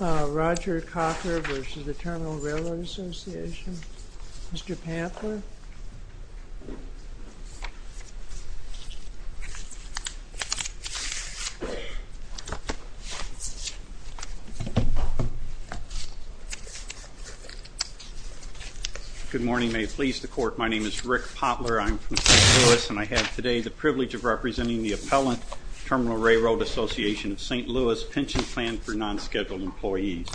Roger Cocker v. The Terminal Railroad Association. Mr. Poplar. Good morning, may it please the Court. My name is Rick Poplar. I'm from St. Louis and I have today the privilege of representing the appellant, Terminal Railroad Association of St. Louis Pension Plan for Non-Scheduled Employees.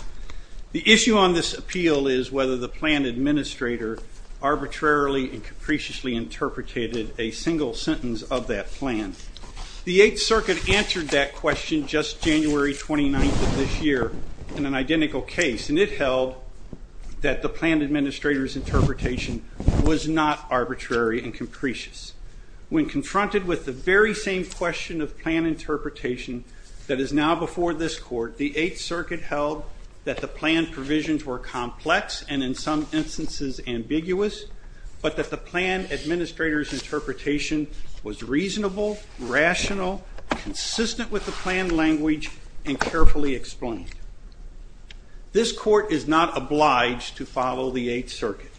The issue on this appeal is whether the plan administrator arbitrarily and capriciously interpreted a single sentence of that plan. The Eighth Circuit answered that question just January 29th of this year in an identical case and it held that the plan administrator's interpretation was not arbitrary and capricious. When confronted with the very same question of plan interpretation that is now before this Court, the Eighth Circuit held that the plan provisions were complex and in some instances ambiguous, but that the plan administrator's interpretation was reasonable, rational, consistent with the plan language, and carefully explained. This Court is not obliged to follow the Eighth Circuit's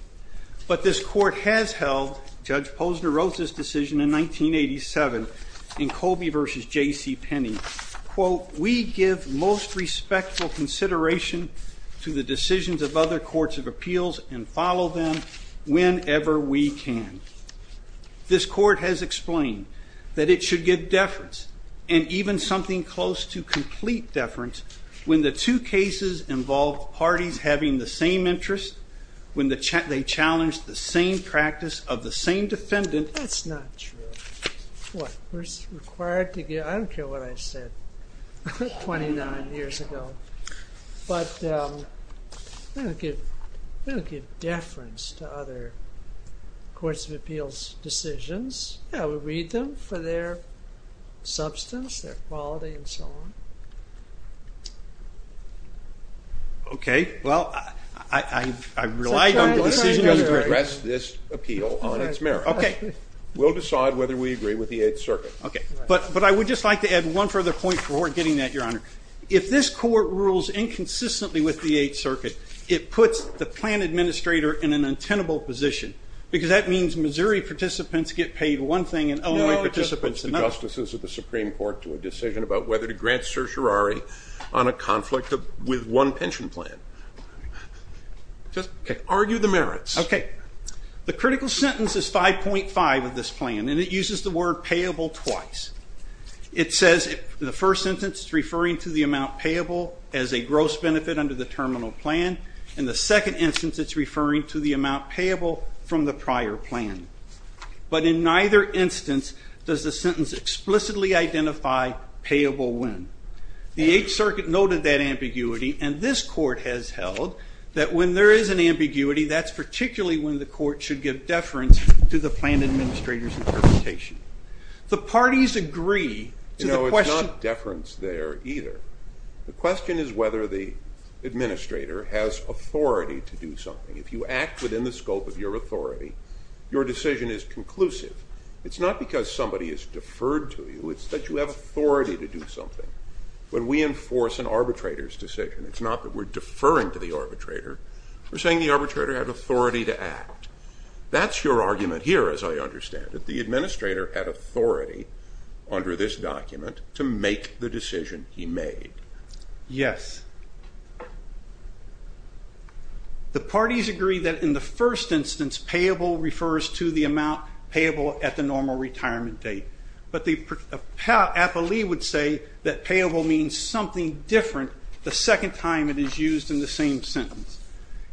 decision in 1987 in Colby v. J.C. Penney, quote, we give most respectful consideration to the decisions of other courts of appeals and follow them whenever we can. This Court has explained that it should give deference and even something close to complete deference when the two cases involve parties having the same interests, when they challenge the same practice of the same defendant. That's not true. What, we're required to give, I don't care what I said 29 years ago, but we don't give deference to other courts of appeals' decisions. Yeah, we read them for their substance, their quality, and so on. Okay, well, I relied on the decision to address this appeal on its merits. We'll decide whether we agree with the Eighth Circuit. Okay, but I would just like to add one further point before getting that, Your Honor. If this Court rules inconsistently with the Eighth Circuit, it puts the plan administrator in an untenable position, because that means Missouri participants get paid one thing and Illinois participants another. No, it just puts the justices of the Supreme Court to a decision about whether to grant certiorari on a conflict with one pension plan. Just argue the merits. Okay, the critical sentence is 5.5 of this plan, and it uses the word payable twice. It says, the first sentence is referring to the amount payable as a gross benefit under the terminal plan, and the second instance it's referring to the amount payable from the prior plan. But in neither instance does the sentence explicitly identify payable when. The Eighth Circuit noted that ambiguity, and this Court has held that when there is an ambiguity, that's particularly when the Court should give deference to the plan administrator's interpretation. The parties agree to the question— You know, it's not deference there either. The question is whether the administrator has authority to do something. If you act within the scope of your authority, your decision is conclusive. It's not because somebody has deferred to you, it's that you have authority to do something. When we enforce an arbitrator's decision, it's not that we're deferring to the arbitrator, we're saying the arbitrator had authority to act. That's your argument here, as I understand it. The administrator had authority under this document to make the decision he made. Yes. The parties agree that in the first instance, payable refers to the amount payable at the normal retirement date. But the appellee would say that payable means something different the second time it is used in the same sentence.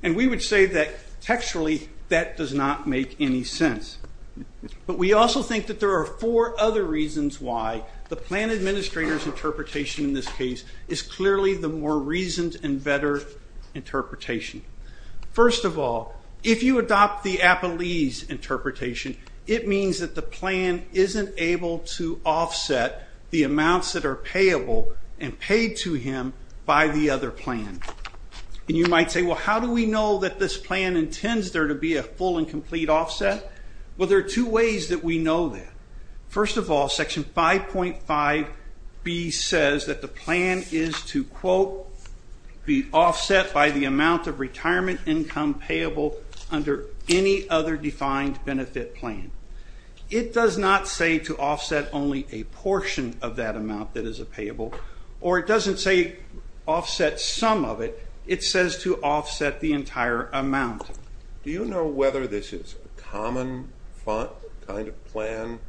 And we would say that textually, that does not make any sense. But we also think that there are four other reasons why the plan administrator's interpretation in this case is clearly the more reasoned and better interpretation. First of all, if you adopt the appellee's interpretation, it means that the plan isn't able to offset the amounts that are payable and paid to him by the other plan. And you might say, well, how do we know that this plan intends there to be a full and complete offset? Well, there are two ways that we know that. First of all, Section 5.5B says that the plan is to, quote, be offset by the amount of retirement income payable under any other defined benefit plan. It does not say to offset only a portion of that amount that is a payable, or it doesn't say offset some of it. It says to offset the entire amount. Do you know whether this is a common kind of plan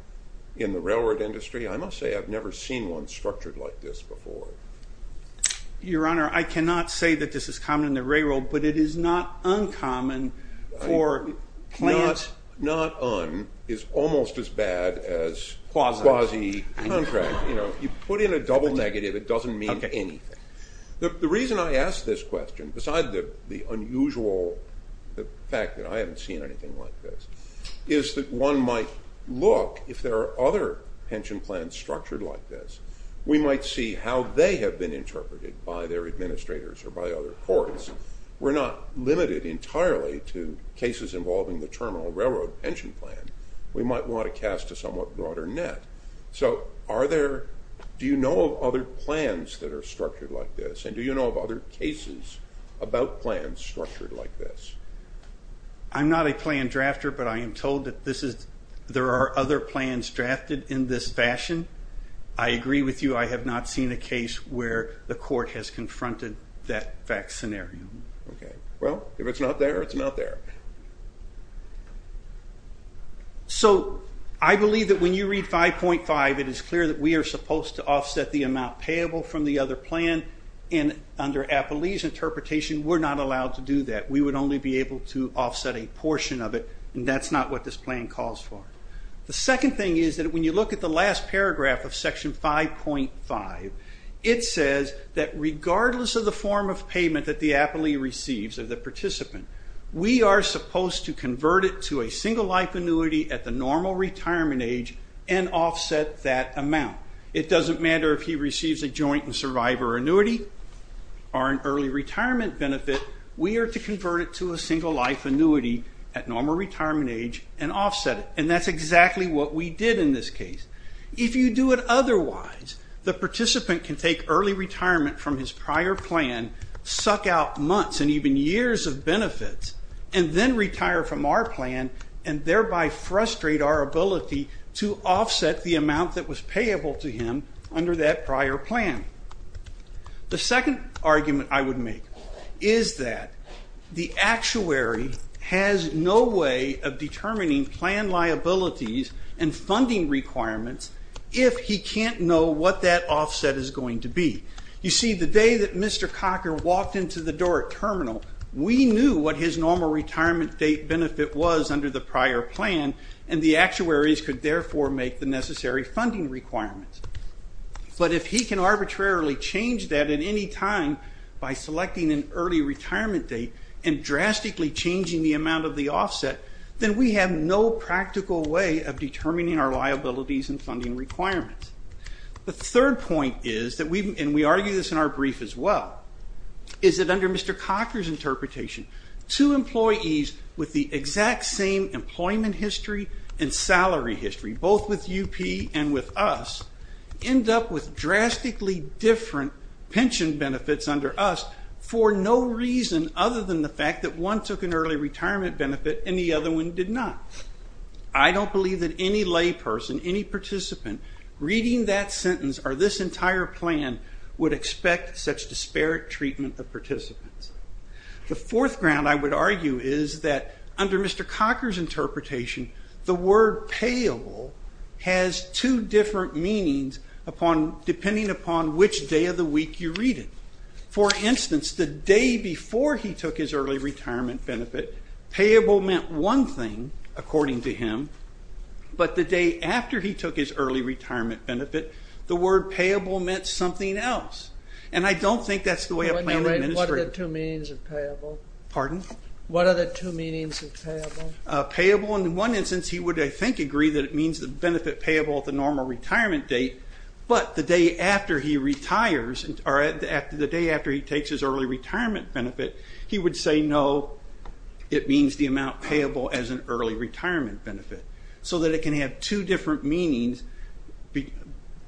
in the railroad industry? I must say I've never seen one structured like this before. Your Honor, I cannot say that this is common in the railroad, but it is not uncommon for plans... Not un- is almost as bad as quasi-contract. You put in a double negative, it doesn't mean anything. The reason I ask this question, besides the unusual fact that I haven't seen anything like this, is that one might look, if there are other pension plans structured like this, we might see how they have been interpreted by their administrators or by other courts. We're not limited entirely to cases involving the Terminal Railroad Pension Plan. We might want to cast a somewhat broader net. So are there- do you know of other plans that are structured like this? And do you know of other cases about plans structured like this? I'm not a plan drafter, but I am told that this is- there are other plans drafted in this fashion. I agree with you, I have not seen a case where the court has confronted that fact scenario. Okay. Well, if it's not there, it's not there. So I believe that when you read 5.5, it is clear that we are supposed to offset the amount payable from the other plan, and under Appelee's interpretation, we're not allowed to do that. We would only be able to offset a portion of it, and that's not what this plan calls for. The second thing is that when you look at the last paragraph of Section 5.5, it says that regardless of the form of payment that the appellee receives, or the participant, we are supposed to convert it to a single life annuity at the normal retirement age and offset that amount. It doesn't matter if he receives a joint and survivor annuity or an early retirement benefit, we are to convert it to a single life annuity at normal retirement age and offset it. And that's exactly what we did in this case. If you do it otherwise, the participant can take early retirement from his prior plan, suck out months and even years of benefits, and then retire from our plan, and thereby frustrate our ability to offset the amount that was payable to him under that prior plan. The second argument I would make is that the actuary has no way of determining plan liabilities and funding requirements if he can't know what that offset is going to be. You see, the day that Mr. Cocker walked into the door at Terminal, we knew what his normal retirement date benefit was under the prior plan, and the actuaries could therefore make the necessary funding requirements. But if he can arbitrarily change that at any time by selecting an early retirement date and drastically changing the amount of the offset, then we have no practical way of determining our liabilities and funding requirements. The third point is, and we argue this in our brief as well, is that under Mr. Cocker's interpretation, two employees with the exact same employment history and salary history, both with UP and with us, end up with drastically different pension benefits under us for no reason other than the fact that one took an early retirement benefit and the other one did not. I don't believe that any layperson, any participant, reading that sentence or this entire plan would expect such disparate treatment of participants. The fourth ground I would argue is that under Mr. Cocker's interpretation, the word payable has two different meanings depending upon which day of the week you read it. For instance, the day before he took his early retirement benefit, payable meant one thing according to him, but the day after he took his early retirement benefit, the word payable meant something else. And I don't think that's the way a plan administrator... Wait a minute, what are the two meanings of payable? Pardon? What are the two meanings of payable? Payable, in one instance he would, I think, agree that it means the benefit payable at the normal retirement date, but the day after he retires, or the day after he takes his early retirement benefit, he would say no, it means the amount payable as an early retirement benefit. So that it can have two different meanings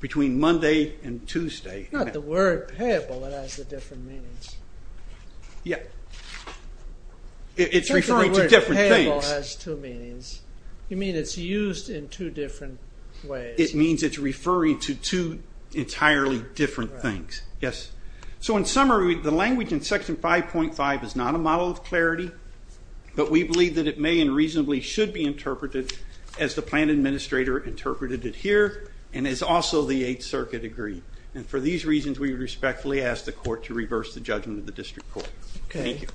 between Monday and Tuesday. Not the word payable that has the different meanings. Yeah, it's referring to different things. You mean it's used in two different ways. It means it's referring to two entirely different things. Yes. So in summary, the language in Section 5.5 is not a model of clarity, but we believe that it may and reasonably should be interpreted as the plan administrator interpreted it here, and as also the Eighth Circuit agreed. And for these reasons, we would respectfully ask the Court to reverse the judgment of the District Court. Okay. Thank you.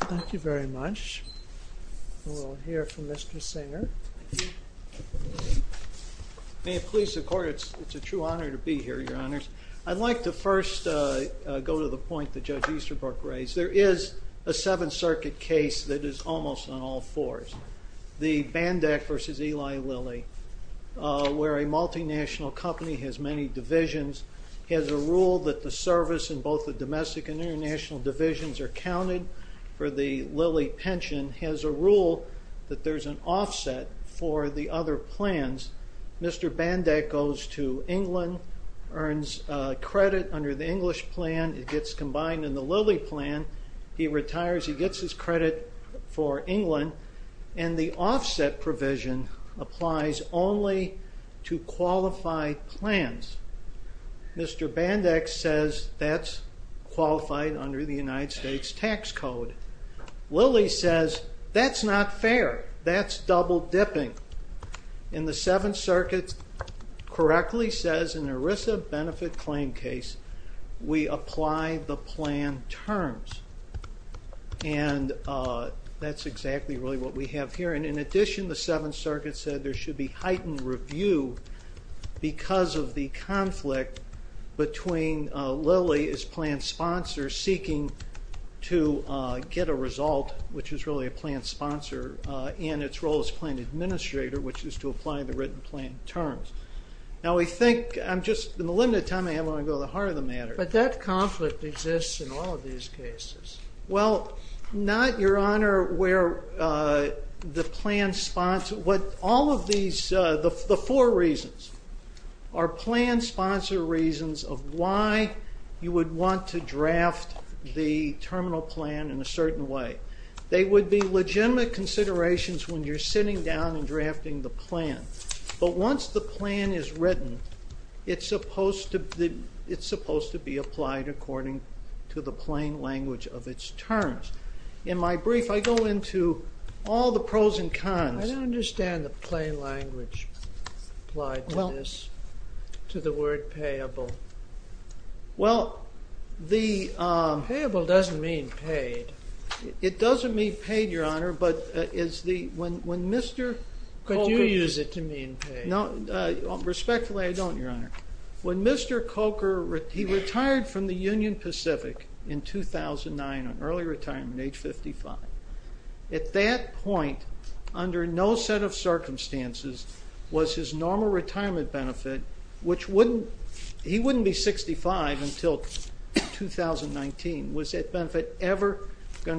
Thank you very much. We'll hear from Mr. Singer. May it please the Court, it's a true honor to be here, Your Honors. I'd like to first go to the point that Judge Easterbrook raised. There is a Seventh Circuit case that is almost on all fours. The Bandack v. Eli Lilly, where a multinational company has many divisions, has a rule that the service in both the domestic and international divisions are counted for the Lilly pension, has a rule that there's an offset for the other plans. Mr. Bandack goes to England, earns credit under the English plan, it gets combined in the Lilly plan, he retires, he gets his credit for England, and the offset provision applies only to qualified plans. Mr. Bandack says that's qualified under the United States tax code. Lilly says that's not fair, that's double dipping. And the Seventh Circuit correctly says in an ERISA benefit claim case, we apply the plan terms. And that's exactly really what we have here. And in addition, the Seventh Circuit said there should be heightened review because of the conflict between Lilly as plan sponsor seeking to get a result, which is really a plan administrator, which is to apply the written plan terms. Now we think, in the limited time I have, I'm going to go to the heart of the matter. But that conflict exists in all of these cases. Well, not, Your Honor, where the plan sponsor, what all of these, the four reasons are plan sponsor reasons of why you would want to draft the terminal plan in a certain way. They would be legitimate considerations when you're sitting down and drafting the plan. But once the plan is written, it's supposed to be applied according to the plain language of its terms. In my brief, I go into all the pros and cons. I don't understand the plain language applied to this, to the word payable. Well, the... Payable doesn't mean paid. It doesn't mean paid, Your Honor, but is the... Could you use it to mean paid? Respectfully, I don't, Your Honor. When Mr. Coker, he retired from the Union Pacific in 2009 on early retirement, age 55. At that point, under no set of circumstances was his normal retirement benefit, which going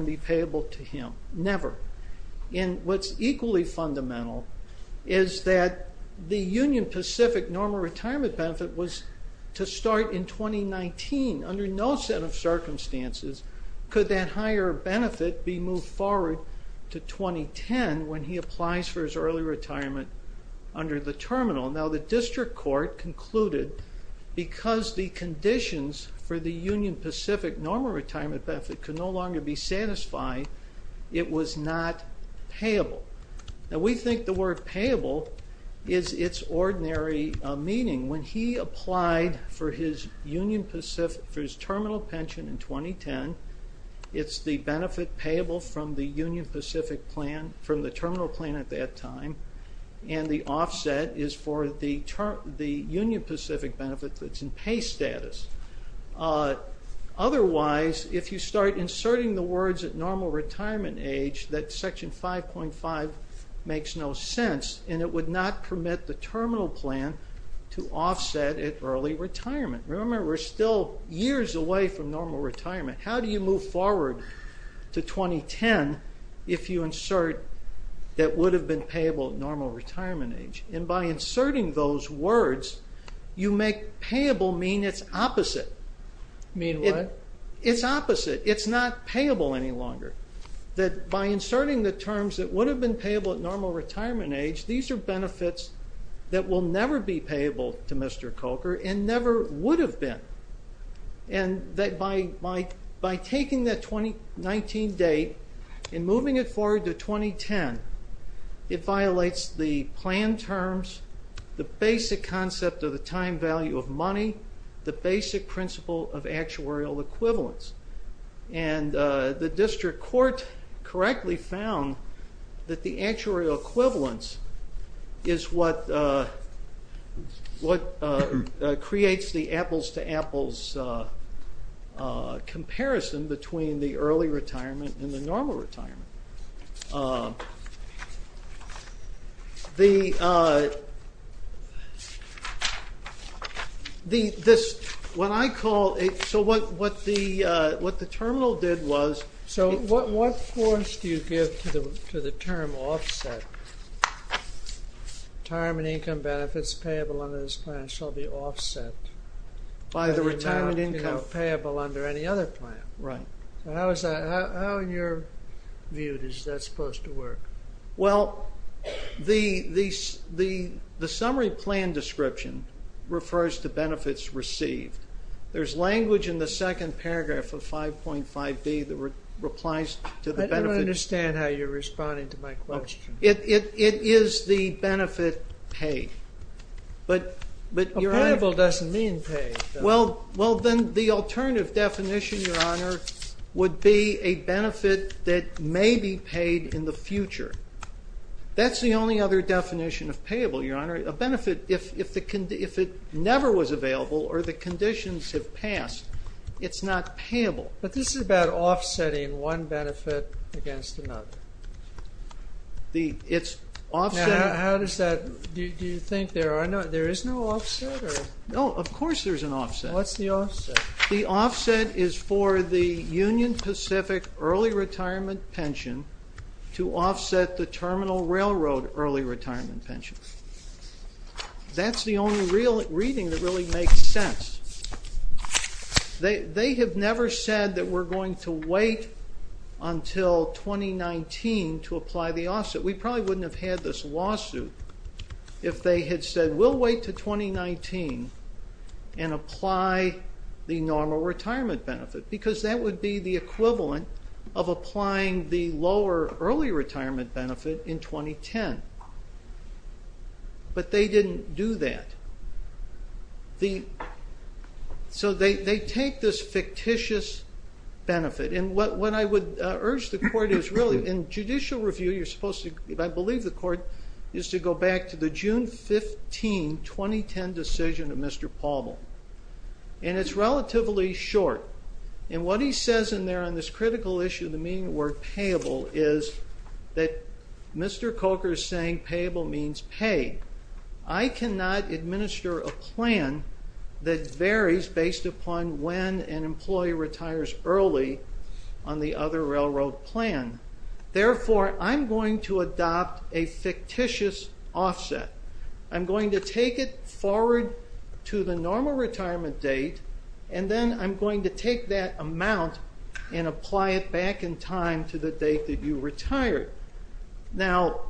to be payable to him, never. And what's equally fundamental is that the Union Pacific normal retirement benefit was to start in 2019. Under no set of circumstances could that higher benefit be moved forward to 2010 when he applies for his early retirement under the terminal. Now, the district court concluded because the conditions for the Union Pacific normal retirement benefit could no longer be satisfied, it was not payable. Now, we think the word payable is its ordinary meaning. When he applied for his Union Pacific, for his terminal pension in 2010, it's the benefit payable from the Union Pacific plan, from the terminal plan at that time, and the offset is for the Union Pacific benefit that's in pay status. Otherwise, if you start inserting the words at normal retirement age, that section 5.5 makes no sense, and it would not permit the terminal plan to offset at early retirement. Remember, we're still years away from normal retirement. How do you move forward to 2010 if you insert that would have been payable at normal retirement age? By inserting those words, you make payable mean it's opposite. Mean what? It's opposite. It's not payable any longer. That by inserting the terms that would have been payable at normal retirement age, these are benefits that will never be payable to Mr. Coker and never would have been. By taking that 2019 date and moving it forward to 2010, it violates the plan terms, the basic concept of the time value of money, the basic principle of actuarial equivalence. The district court correctly found that the actuarial equivalence is what creates the apples comparison between the early retirement and the normal retirement. So what the terminal did was... So what force do you give to the term offset? Time and income benefits payable under this plan shall be offset. By the retirement income. By the amount payable under any other plan. Right. How in your view is that supposed to work? Well, the summary plan description refers to benefits received. There's language in the second paragraph of 5.5B that replies to the benefit... I don't understand how you're responding to my question. It is the benefit paid. Payable doesn't mean paid. Well, then the alternative definition, Your Honor, would be a benefit that may be paid in the future. That's the only other definition of payable, Your Honor. A benefit, if it never was available or the conditions have passed, it's not payable. But this is about offsetting one benefit against another. It's offset... How does that... Do you think there is no offset? No, of course there's an offset. What's the offset? The offset is for the Union Pacific early retirement pension to offset the Terminal Railroad early retirement pension. That's the only reading that really makes sense. They have never said that we're going to wait until 2019 to apply the offset. We probably wouldn't have had this lawsuit if they had said, We'll wait until 2019 and apply the normal retirement benefit, because that would be the equivalent of applying the lower early retirement benefit in 2010. But they didn't do that. The... So they take this fictitious benefit. And what I would urge the court is really, in judicial review, you're supposed to... I believe the court is to go back to the June 15, 2010, decision of Mr. Pauble. And it's relatively short. And what he says in there on this critical issue, the meaning of the word payable, is that Mr. Coker is saying payable means paid. I cannot administer a plan that varies based upon when an employee retires early on the other railroad plan. Therefore, I'm going to adopt a fictitious offset. I'm going to take it forward to the normal retirement date, and then I'm going to take that amount and apply it back in time to the date that you retired. Now,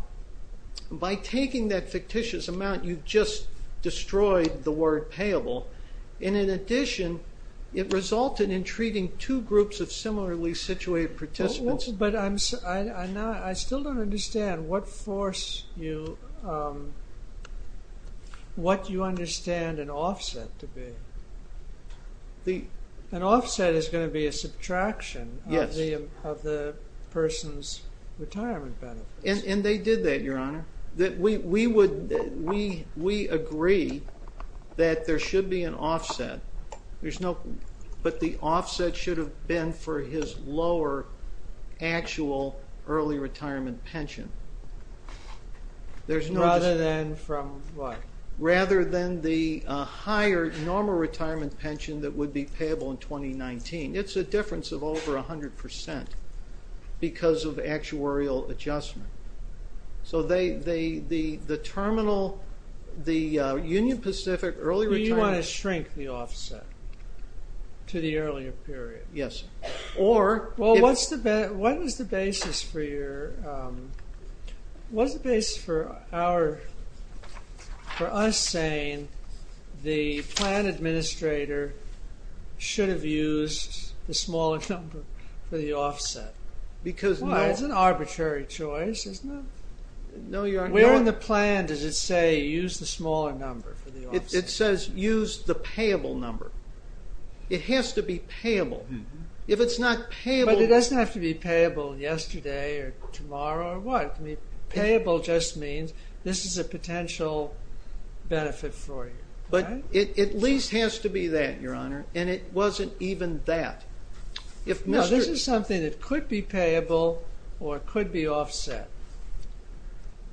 by taking that fictitious amount, you've just destroyed the word payable. And in addition, it resulted in treating two groups of similarly situated participants. But I still don't understand what force you... What you understand an offset to be. An offset is going to be a subtraction of the person's retirement benefits. And they did that, Your Honor. We agree that there should be an offset. But the offset should have been for his lower actual early retirement pension. Rather than from what? Rather than the higher normal retirement pension that would be payable in 2019. It's a difference of over 100% because of actuarial adjustment. So the terminal, the Union Pacific early retirement... Do you want to shrink the offset to the earlier period? Yes. Well, what's the basis for your... What's the basis for our... For us saying the plan administrator should have used the smaller number for the offset? Because... Well, it's an arbitrary choice, isn't it? Where in the plan does it say use the smaller number for the offset? It says use the payable number. It has to be payable. If it's not payable... But it doesn't have to be payable yesterday or tomorrow or what. Payable just means this is a potential benefit for you. But it at least has to be that, Your Honor. And it wasn't even that. No, this is something that could be payable or could be offset.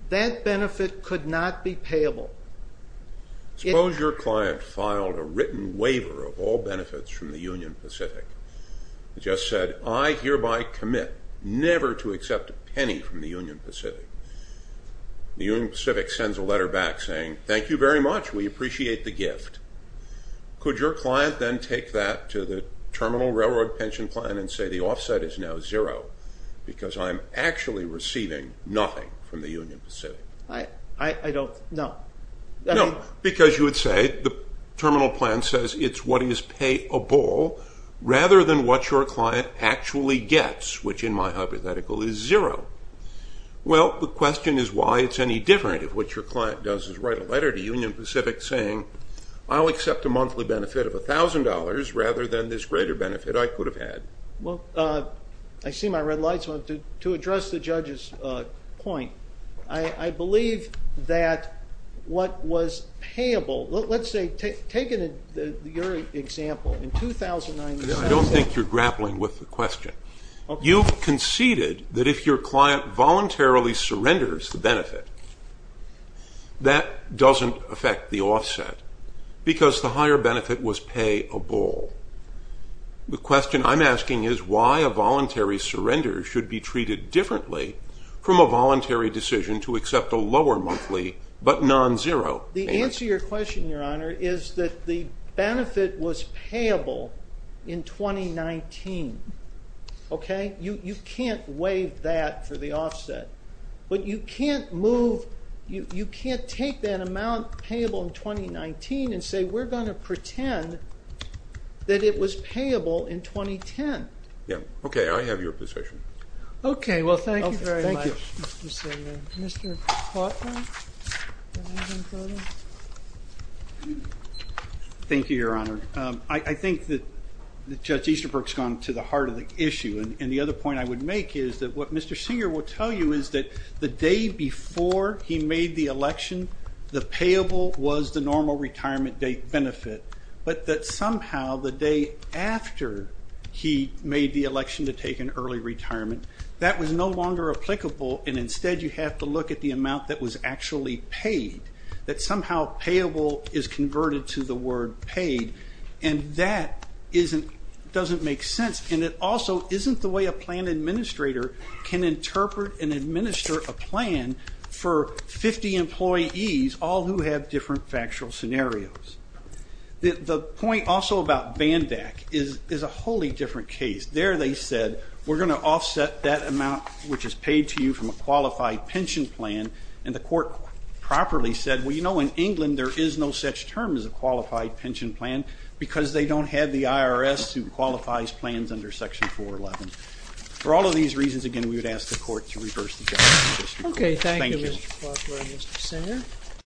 That benefit could not be payable. Suppose your client filed a written waiver of all benefits from the Union Pacific. It just said, I hereby commit never to accept a penny from the Union Pacific. The Union Pacific sends a letter back saying, thank you very much. We appreciate the gift. Could your client then take that to the Terminal Railroad Pension Plan and say the offset is now zero because I'm actually receiving nothing from the Union Pacific? I don't know. No, because you would say the Terminal Plan says it's what is payable rather than what your client actually gets, which in my hypothetical is zero. Well, the question is why it's any different if what your client does is write a letter to Union Pacific saying I'll accept a monthly benefit of $1,000 rather than this greater benefit I could have had. Well, I see my red lights. To address the judge's point, I believe that what was payable, let's say take your example in 2009. I don't think you're grappling with the question. You conceded that if your client voluntarily surrenders the benefit, that doesn't affect the offset because the higher benefit was payable. The question I'm asking is why a voluntary surrender should be treated differently from a voluntary decision to accept a lower monthly but non-zero benefit. The answer to your question, Your Honor, is that the benefit was payable in 2019. You can't waive that for the offset. But you can't move, you can't take that amount payable in 2019 and say we're going to pretend that it was payable in 2010. Yeah, okay, I have your position. Okay, well, thank you very much, Mr. Singer. Mr. Plotkin? Thank you, Your Honor. I think that Judge Easterbrook's gone to the heart of the issue, and the other point I would make is that what Mr. Singer will tell you is that the day before he made the election, the payable was the normal retirement date benefit, but that somehow the day after he made the election to take an early retirement, that was no longer applicable, and instead you have to look at the amount that was actually paid, that somehow payable is converted to the word paid, and that doesn't make sense. And it also isn't the way a plan administrator can interpret and administer a plan for 50 employees, all who have different factual scenarios. The point also about BANDAC is a wholly different case. There they said we're going to offset that amount which is paid to you from a qualified pension plan, and the court properly said, well, you know, in England there is no such term as a qualified pension plan because they don't have the IRS who qualifies plans under Section 411. For all of these reasons, again, we would ask the court to reverse the judgment. Okay, thank you, Mr. Klausler and Mr. Singer.